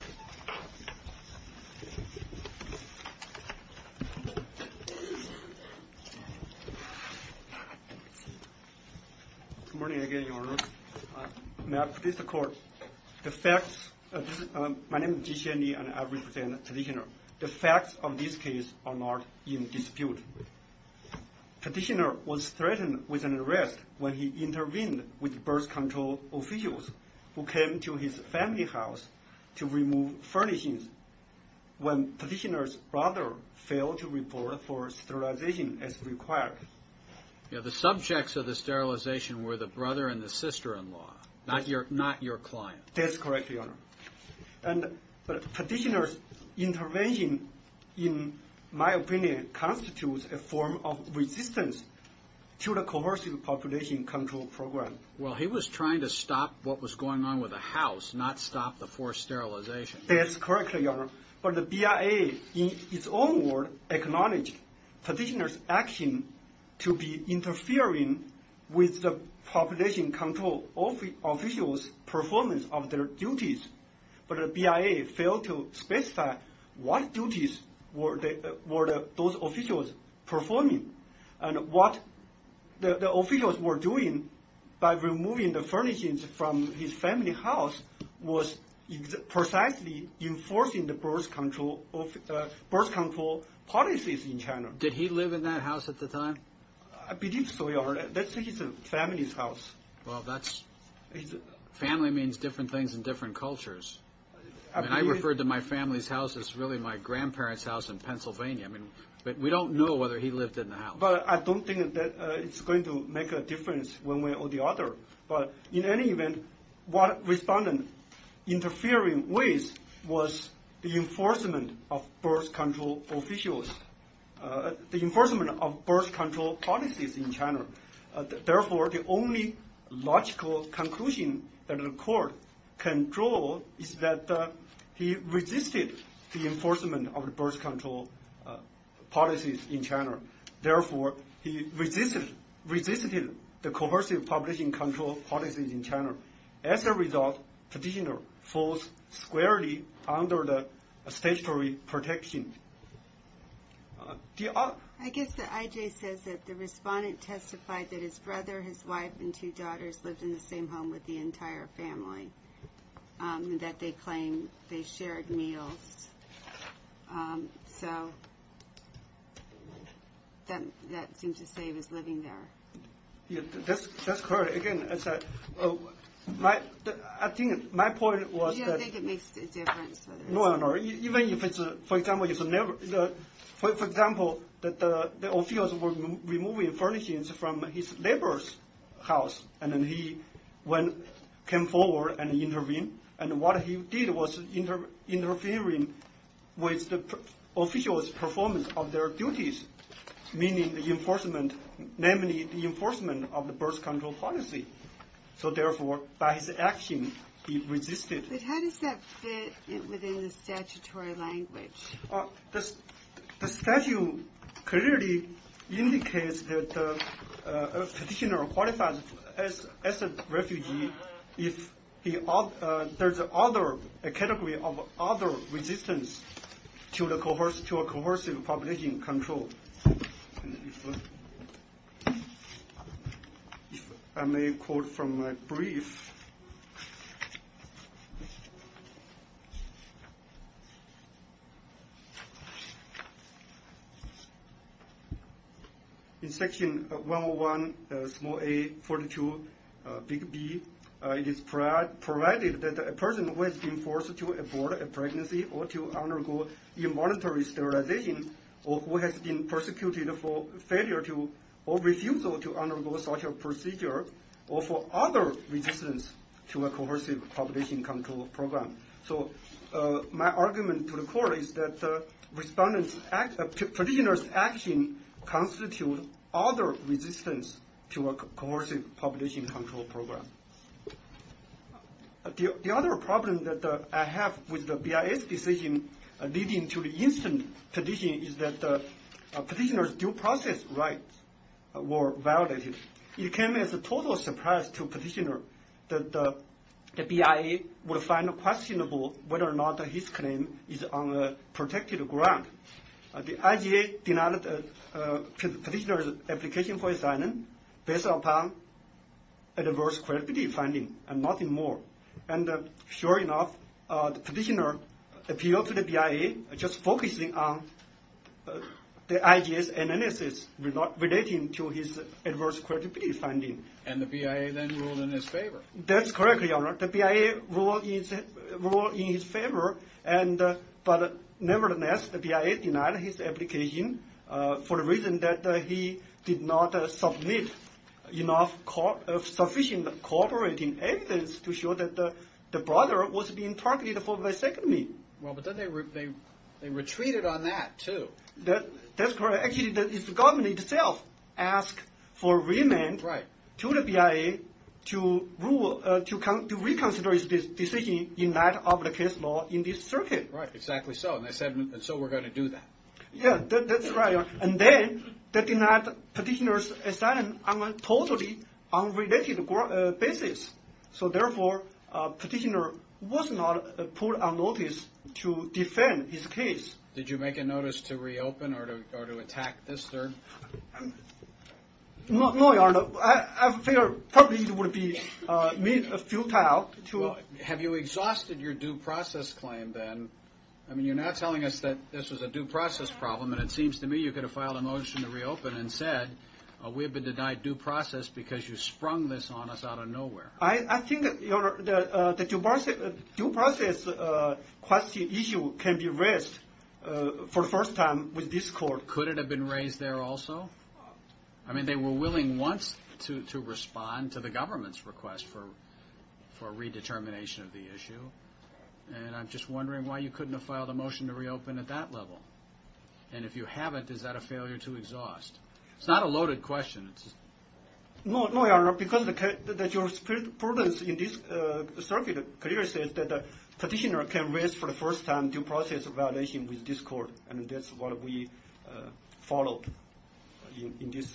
Good morning again, Your Honor. May I please record the facts. My name is Ji Xianli and I represent the petitioner. The facts of this case are not in dispute. Petitioner was threatened with an arrest when he intervened with birth control officials who came to his family house to remove furnishings when petitioner's brother failed to report for sterilization as required. The subjects of the sterilization were the brother and the sister-in-law, not your client. That's correct, Your Honor. Petitioner's intervention, in my opinion, constitutes a form of resistance to the coercive population control program. Well, he was trying to stop what was going on with the house, not stop the forced sterilization. That's correct, Your Honor. But the BIA in its own word acknowledged petitioner's action to be interfering with the population control officials' performance of their duties. But the BIA failed to specify what duties were those officials performing and what the officials were doing by removing the furnishings from his family house was precisely enforcing the birth control policies in China. Did he live in that house at the time? I believe so, Your Honor. That's his family's house. Well, family means different things in different cultures. I mean, I referred to my family's house as really my grandparent's house in Pennsylvania. I mean, we don't know whether he lived in the house. But I don't think that it's going to make a difference one way or the other. But in any event, what respondent interfered with was the enforcement of birth control officials, the enforcement of birth control policies in China. Therefore, the only logical conclusion that the court can draw is that he resisted the enforcement of the birth control policies in China. Therefore, he resisted the coercive population control policies in China. As a result, petitioner falls squarely under the statutory protection. I guess the IJ says that the respondent testified that his brother, his wife, and two daughters lived in the same home with the entire family, that they claimed they shared meals. So, that seems to say he was living there. That's correct. Again, I think my point was... Do you think it makes a difference? No, Your Honor. Even if it's, for example, the officials were removing furnishings from his neighbor's house, and he came forward and intervened. And what he did was interfering with the officials' performance of their duties, meaning the enforcement, namely the enforcement of the birth control policy. So, therefore, by his action, he resisted. But how does that fit within the statutory language? The statute clearly indicates that a petitioner qualifies as a refugee if there's a category of other resistance to a coercive population control. I may quote from my brief. In section 101, small a, 42, big B, it is provided that a person who has been forced to abort a pregnancy or to undergo involuntary sterilization, or who has been persecuted for failure or refusal to undergo such a procedure, or for other resistance to a coercive population control program. So, my argument to the court is that a petitioner's action constitutes other resistance to a coercive population control program. The other problem that I have with the BIS decision leading to the instant petition is that the petitioner's due process rights were violated. It came as a total surprise to the petitioner that the BIA would find questionable whether or not his claim is on a protected ground. The IGA denied the petitioner's application for asylum based upon adverse credibility finding and nothing more. And sure enough, the petitioner appealed to the BIA just focusing on the IGA's analysis relating to his adverse credibility finding. And the BIA then ruled in his favor. That's correct, Your Honor. The BIA ruled in his favor, but nevertheless, the BIA denied his application for the reason that he did not submit enough sufficient cooperating evidence to show that the brother was being targeted for visectomy. Well, but then they retreated on that, too. That's correct. Actually, the government itself asked for remand to the BIA to reconsider its decision in light of the case law in this circuit. Right, exactly so. And they said, and so we're going to do that. Yeah, that's right, Your Honor. And then they denied the petitioner's asylum on a totally unrelated basis. So therefore, the petitioner was not put on notice to defend his case. Did you make a notice to reopen or to attack this, sir? No, Your Honor. I figured probably it would be futile to... Have you exhausted your due process claim then? I mean, you're not telling us that this was a due process problem, and it seems to me you could have filed a motion to reopen and said, we have been denied due process because you sprung this on us out of nowhere. I think the due process issue can be raised for the first time with this court. Could it have been raised there also? I mean, they were willing once to respond to the government's request for a redetermination of the issue. And I'm just wondering why you couldn't have filed a motion to reopen at that level. And if you haven't, is that a failure to exhaust? It's not a loaded question. No, Your Honor, because the jurisprudence in this circuit clearly says that the petitioner can raise for the first time due process violation with this court. And that's what we followed in this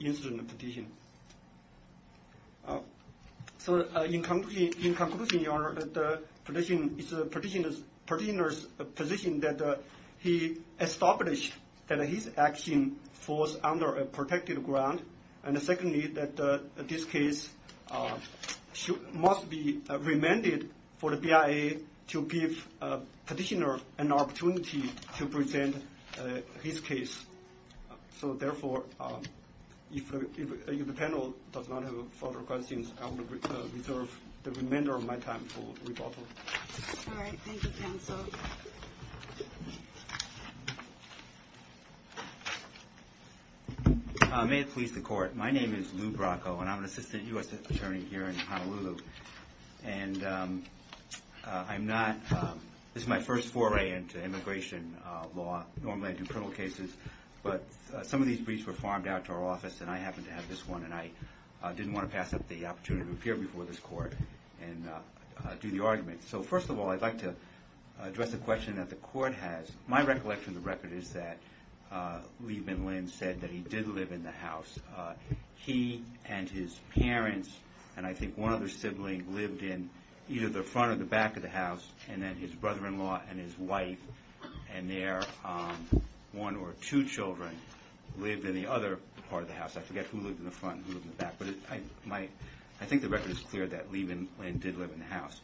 incident petition. So in conclusion, Your Honor, it's the petitioner's position that he established that his action falls under a protected ground. And secondly, that this case must be remanded for the BIA to give petitioner an opportunity to present his case. So therefore, if the panel does not have further questions, I will reserve the remainder of my time for rebuttal. All right. Thank you, counsel. May it please the court. My name is Lou Bracco, and I'm an assistant U.S. attorney here in Honolulu. And this is my first foray into immigration law. Normally I do criminal cases, but some of these briefs were farmed out to our office, and I happened to have this one, and I didn't want to pass up the opportunity to appear before this court and do the argument. So first of all, I'd like to address a question that the court has. My recollection of the record is that Liebman Lynn said that he did live in the house. He and his parents and I think one other sibling lived in either the front or the back of the house, and then his brother-in-law and his wife and their one or two children lived in the other part of the house. I forget who lived in the front and who lived in the back. But I think the record is clear that Liebman Lynn did live in the house.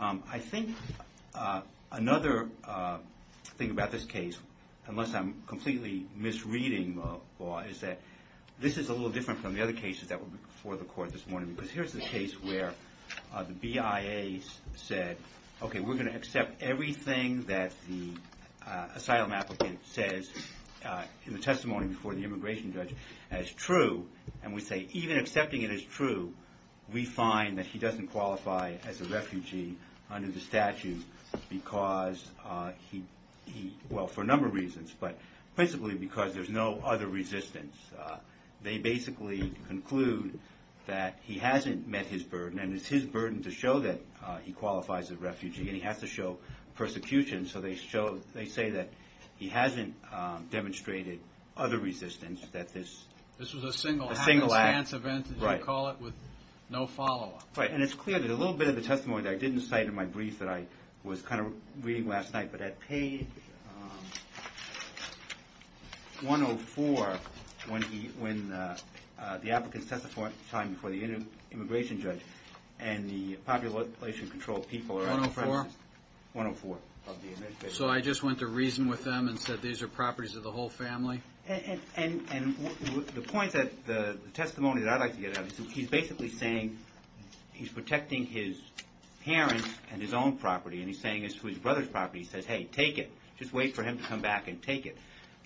I think another thing about this case, unless I'm completely misreading the law, is that this is a little different from the other cases that were before the court this morning. Because here's the case where the BIA said, okay, we're going to accept everything that the asylum applicant says in the testimony before the immigration judge as true, and we say even accepting it as true, we find that he doesn't qualify as a refugee under the statute because he, well, for a number of reasons, but principally because there's no other resistance. They basically conclude that he hasn't met his burden and it's his burden to show that he qualifies as a refugee and he has to show persecution. So they say that he hasn't demonstrated other resistance that this is a single act. This was a single act. A single act. You call it with no follow-up. Right. And it's clear that a little bit of the testimony that I didn't cite in my brief that I was kind of reading last night, but at page 104, when the applicant testified before the immigration judge and the population control people are on the premises. 104? 104. So I just went to reason with them and said these are properties of the whole family? And the point that the testimony that I'd like to get at is that he's basically saying he's protecting his parents and his own property and he's saying it's his brother's property. He says, hey, take it. Just wait for him to come back and take it.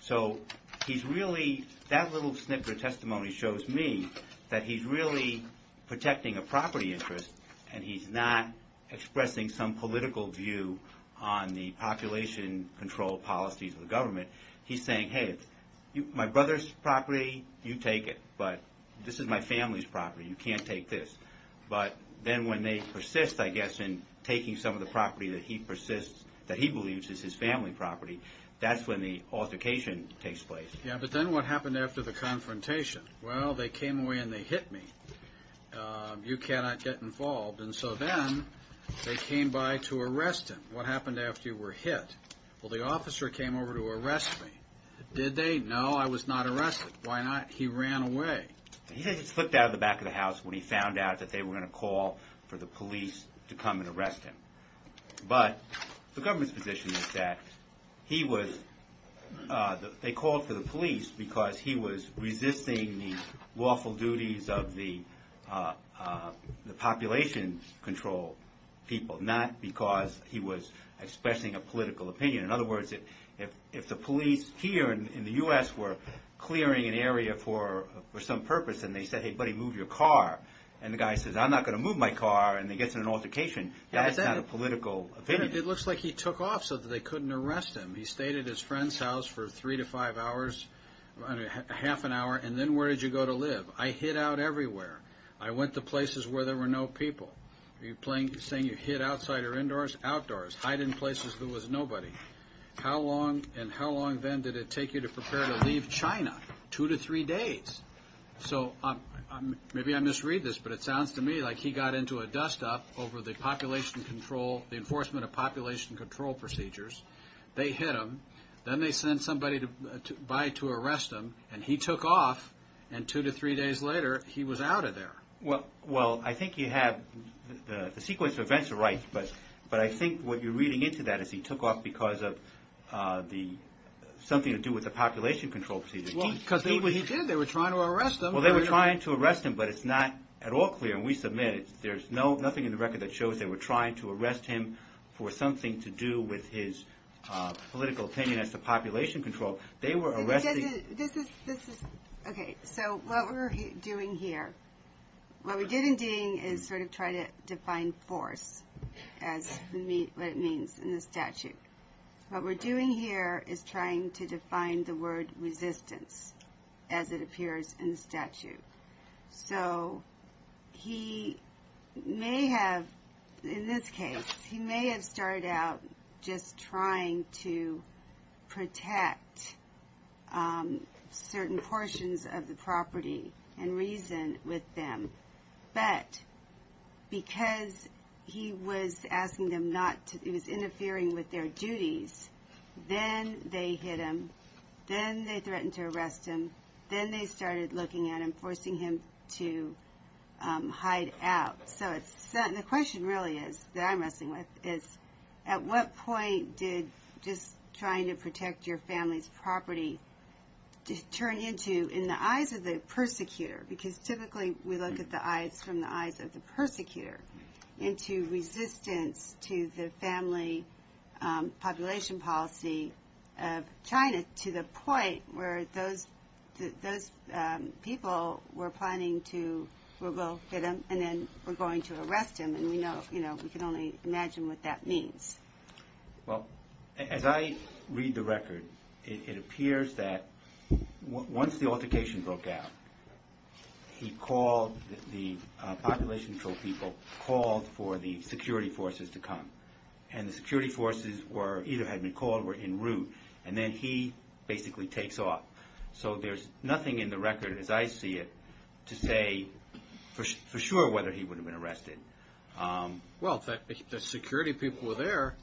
So he's really, that little snippet of testimony shows me that he's really protecting a property interest and he's not expressing some political view on the population control policies of the government. He's saying, hey, my brother's property, you take it. But this is my family's property. You can't take this. But then when they persist, I guess, in taking some of the property that he persists, that he believes is his family property, that's when the altercation takes place. Yeah, but then what happened after the confrontation? Well, they came away and they hit me. You cannot get involved. And so then they came by to arrest him. What happened after you were hit? Well, the officer came over to arrest me. Did they? No, I was not arrested. Why not? He said he slipped out of the back of the house when he found out that they were going to call for the police to come and arrest him. But the government's position is that he was, they called for the police because he was resisting the lawful duties of the population control people, not because he was expressing a political opinion. In other words, if the police here in the U.S. were clearing an area for some purpose and they said, hey, buddy, move your car, and the guy says, I'm not going to move my car and he gets in an altercation, that's not a political opinion. It looks like he took off so that they couldn't arrest him. He stayed at his friend's house for three to five hours, half an hour, and then where did you go to live? I hid out everywhere. I went to places where there were no people. Are you saying you hid outside or indoors? Outdoors. Hide in places there was nobody. How long and how long then did it take you to prepare to leave China? Two to three days. So maybe I misread this, but it sounds to me like he got into a dust-up over the population control, the enforcement of population control procedures. They hit him. Then they sent somebody by to arrest him and he took off and two to three days later he was out of there. Well, I think you have, the sequence of events are right, but I think what you're reading into that is he took off because of something to do with the population control procedures. Yeah, they were trying to arrest him. Well, they were trying to arrest him, but it's not at all clear and we submit there's nothing in the record that shows they were trying to arrest him for something to do with his political opinion as to population control. They were arresting... Okay, so what we're doing here, what we did in Ding is sort of try to define force as what it means in the statute. What we're doing here is trying to define the word resistance as it appears in the statute. So he may have, in this case, he may have started out just trying to protect certain portions of the property and reason with them, but because he was asking them not to, he was interfering with their duties, then they hit him, then they threatened to arrest him, then they started looking at him forcing him to hide out. So the question really is, that I'm wrestling with, is at what point did just trying to protect your family's property turn into, in the eyes of the persecutor, because typically we look at the eyes from the eyes of the persecutor, into resistance to the family population policy of China to the point where those people were planning to, we'll go hit him and then we're going to arrest him and we know, you know, we can only imagine what that means. Well, as I read the record, it appears that once the altercation broke out, he called, the population control people called for the security forces to come and the security forces either had been called or were in route and then he basically takes off. So there's nothing in the record as I see it to say for sure whether he would have been arrested. Well, the security people were there,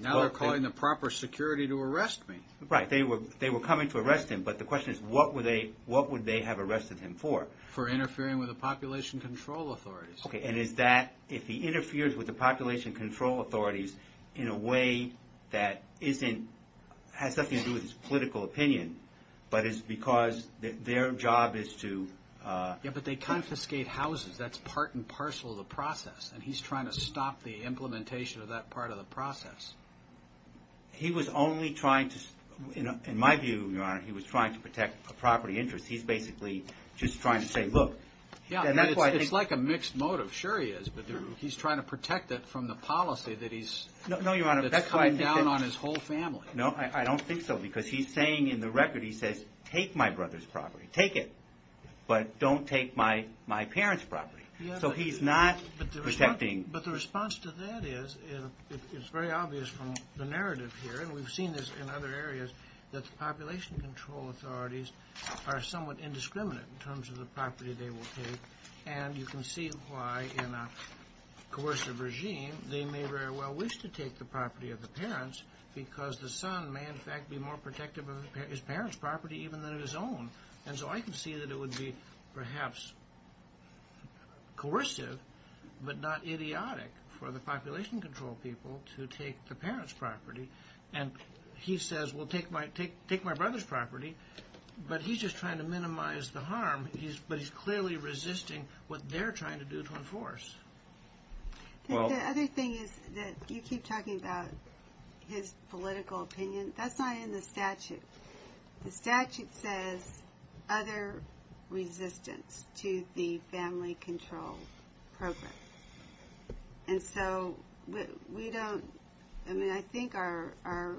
now they're calling the proper security to arrest me. Right, they were coming to arrest him but the question is what would they have arrested him for? For interfering with the population control authorities. And is that, if he interferes with the population control authorities in a way that isn't, has nothing to do with his political opinion but is because their job is to Yeah, but they confiscate houses that's part and parcel of the process and he's trying to stop the implementation of that part of the process. He was only trying to, in my view, Your Honor, he was trying to protect a property interest. He's basically just trying to say, look, It's like a mixed motive, sure he is, but he's trying to protect it from the policy that he's No, Your Honor, that's coming down on his whole family. No, I don't think so because he's saying in the record, he says, take my brother's property, take it, but don't take my parents' property. So he's not protecting But the response to that is it's very obvious from the narrative here and we've seen this in other areas that the population control authorities are somewhat indiscriminate in terms of the property they will take and you can see why in a coercive regime, they may very well wish to take the property of the parents because the son may in fact be more protective of his parents' property even than his own and so I can see that it would be perhaps coercive but not idiotic for the population control people to take the parents' property and he says, well, take my brother's property but he's just trying to minimize the harm but he's clearly resisting what they're trying to do to enforce. The other thing is that you keep talking about his political opinion that's not in the statute. The statute says other resistance to the family control program and so we don't I mean, I think our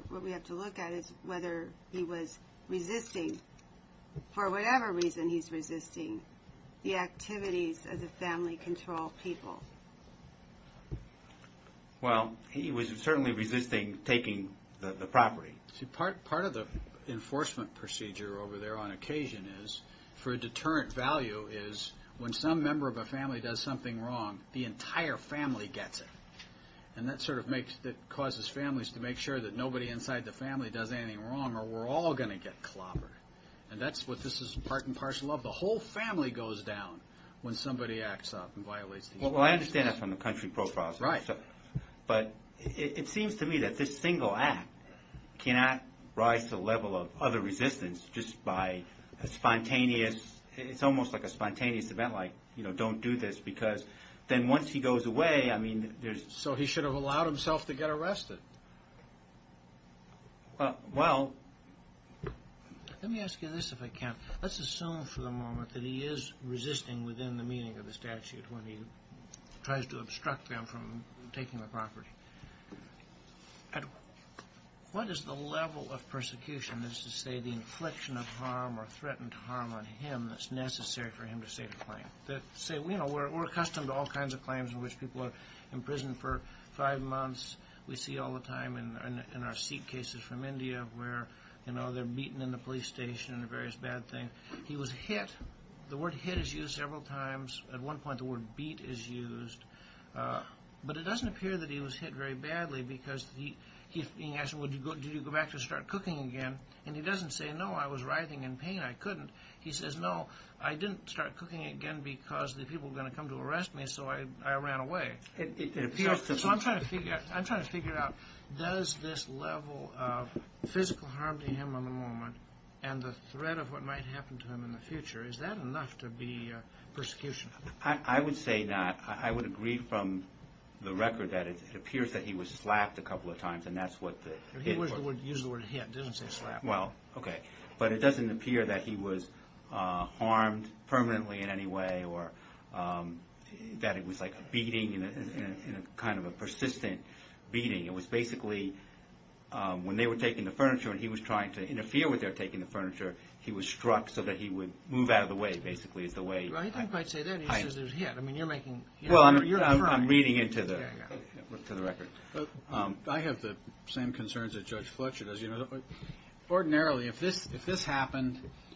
what we have to look at is whether he was resisting for whatever reason he's resisting the activities of the family control people. Well, he was certainly resisting taking the property. Part of the enforcement procedure over there on occasion is for a deterrent value is when some member of a family does something wrong the entire family gets it and that sort of causes families to make sure that nobody inside the family does anything wrong or we're all going to get clobbered and this is part and parcel of the whole family goes down when somebody acts up and violates the Well, I understand that from the country profiles but it seems to me that this single act cannot rise to the level of other resistance just by spontaneous it's almost like a spontaneous event like don't do this because then once he goes away I mean So he should have allowed himself to get arrested? Well let me ask you this if I can Let's assume for the moment that he is resisting within the meaning of the statute when he tries to obstruct them from taking the property What is the level of persecution is to say the infliction of harm or threatened harm on him that's necessary for him to say the claim that say you know we're accustomed to all kinds of claims in which people are imprisoned for five months we see all the time in our seat cases from India where you know they're beaten in the police station and various bad things he was hit the word hit is used several times at one point the word beat is used but it doesn't appear that he was hit very badly because he's being asked do you go back to start cooking again and he doesn't say no I was writhing in pain I couldn't he says no I didn't start cooking again because the people were going to come to arrest me so I ran away so I'm trying to figure out does this level of physical harm to him in the moment and the threat of what might happen to him in the future is that enough to be a persecution I would say that I would agree from the record that it appears that he was slapped a couple of times and that's what the hit use the word hit it doesn't say slap well okay but it doesn't appear that he was harmed permanently in any way or that it was like a beating in a kind of a persistent beating it was basically when they were taking the furniture trying to interfere with their taking the furniture he was struck so that he would move out of the way basically is the way I think I'd say that if it happened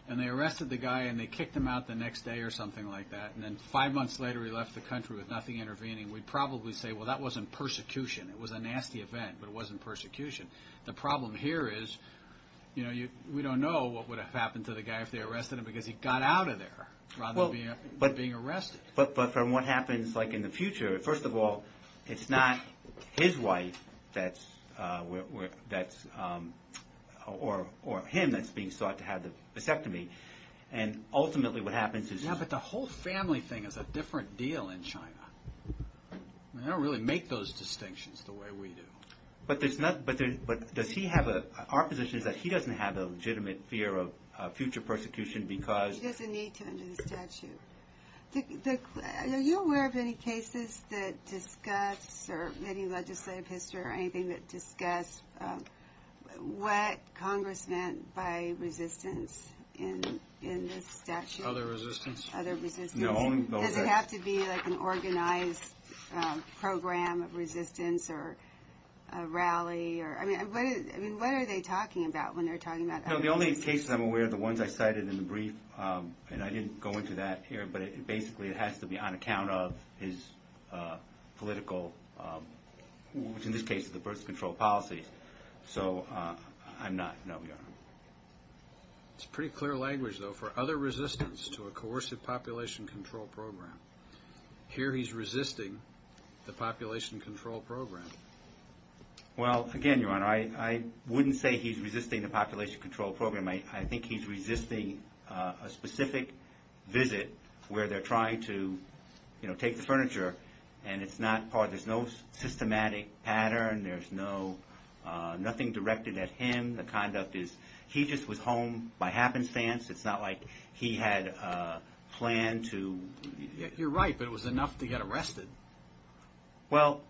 and they arrested the guy and they kicked him out the next day or something like that and then five months later he left the country with nothing intervening we'd probably say well that wasn't persecution it was a nasty event but it wasn't persecution the problem here is you know you we don't know what would have happened to the guy if they arrested him because he got out of there rather than being arrested but from what happens in the future first of all it's not his wife that's or him that's being sought to have the vasectomy and ultimately what happens is yeah but the whole family thing is a different deal in China they don't really make those distinctions the way we do but does he have a our position is that he doesn't have a legitimate fear of future persecution because he doesn't need to under the statute are you aware of any cases that discuss or any legislative history or anything that discuss what congress meant by resistance in this statute other resistance does it have to be like an organized program of resistance or a rally I mean what are they talking about when they're talking about the only cases I'm aware of the ones I cited in the brief and I didn't go into that here but basically it has to be on account of his political which in this case the birth control policy so I'm not no it's pretty clear language though for other resistance to a coercive population control program here he's resisting the population control program well again your honor I wouldn't say he's resisting the population control program I think he's resisting a specific visit where they're trying to you know take the furniture and it's not part there's no systematic pattern there's no nothing directed at him the conduct is he just was home by happenstance it's not like he had planned to you're right it was enough to get arrested well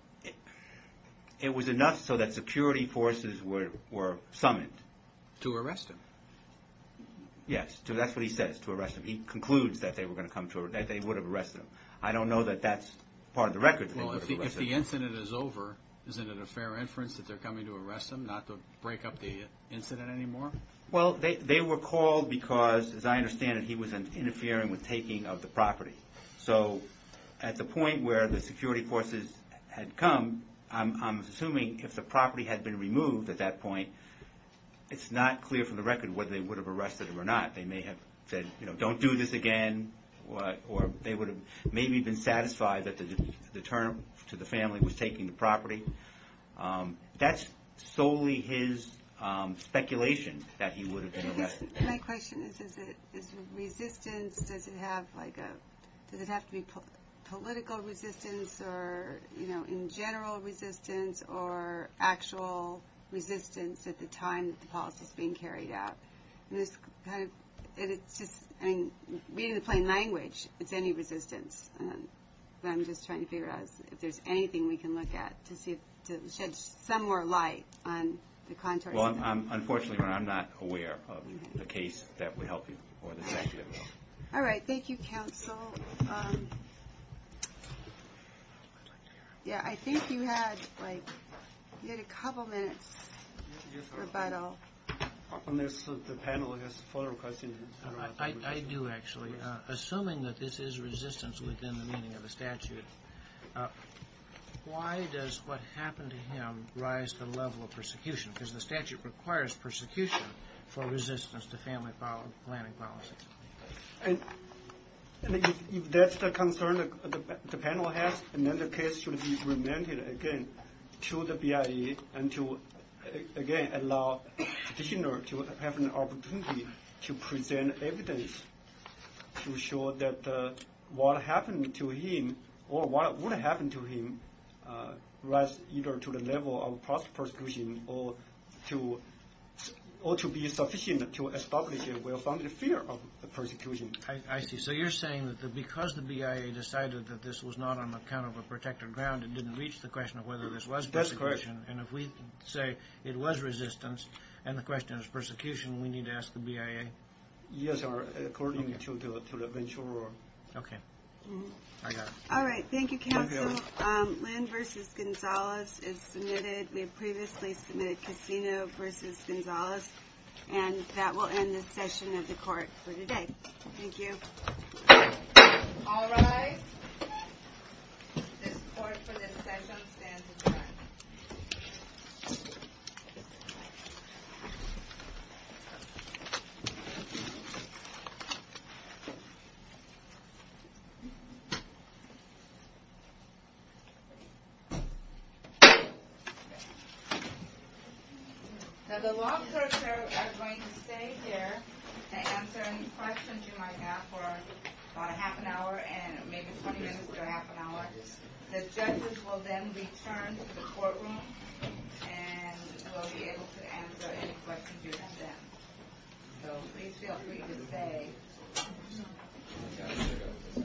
it was enough so that security forces were summoned to arrest him yes that's what he says to arrest him he concludes that they would have arrested him I don't know that that's part of the record well if the incident is over isn't it a fair inference that they're coming to arrest him not to break up the incident anymore well they were called because as I understand it he was interfering with taking of the property so at the point where the security forces had come I'm assuming if the property had been removed at that point it's not clear from the record whether they would have arrested him or not they may have said don't do this again or they would have maybe been satisfied that the turn to the family was taking the property that's solely his speculation that he would have been arrested my question is resistance does it have to be political resistance or in general resistance or actual resistance at the time the policy is being carried out it's just being in plain language it's any resistance I'm just trying to figure out if there's anything we can look at to shed some more light on the contours unfortunately I'm not aware of the case that would help you thank you counsel I think you had like you had a couple minutes rebuttal the panel has a further question I do actually assuming that this is resistance within the meaning of the statute why does what happened to him rise the level of persecution because the statute requires persecution for resistance to family planning policies and if that's the concern the panel has then the case should be remanded again to the BIE and to again allow petitioner to have an opportunity to present evidence to show that what happened to him or what would happen to him rise to the level of persecution I see so you're saying that because the BIE decided that this was not on the account of a protected ground reach the question of whether this was persecution and if we say it was resistance and the question of persecution we need to ask the BIE yes according to the bench order all right thank you counsel Lynn vs. Gonzalez is submitted we previously submitted Casino vs. Gonzalez and that will end the session of the court for today thank you all right this court for this session stands adjourned now the law clerks are going to stay here and answer any questions you might have for about a half an hour and maybe 20 minutes to a half an hour the judges will then return to the courtroom and will be able to answer any questions you have then thank you I will at the courtroom thank you so please feel free to stay I'll be back soon thank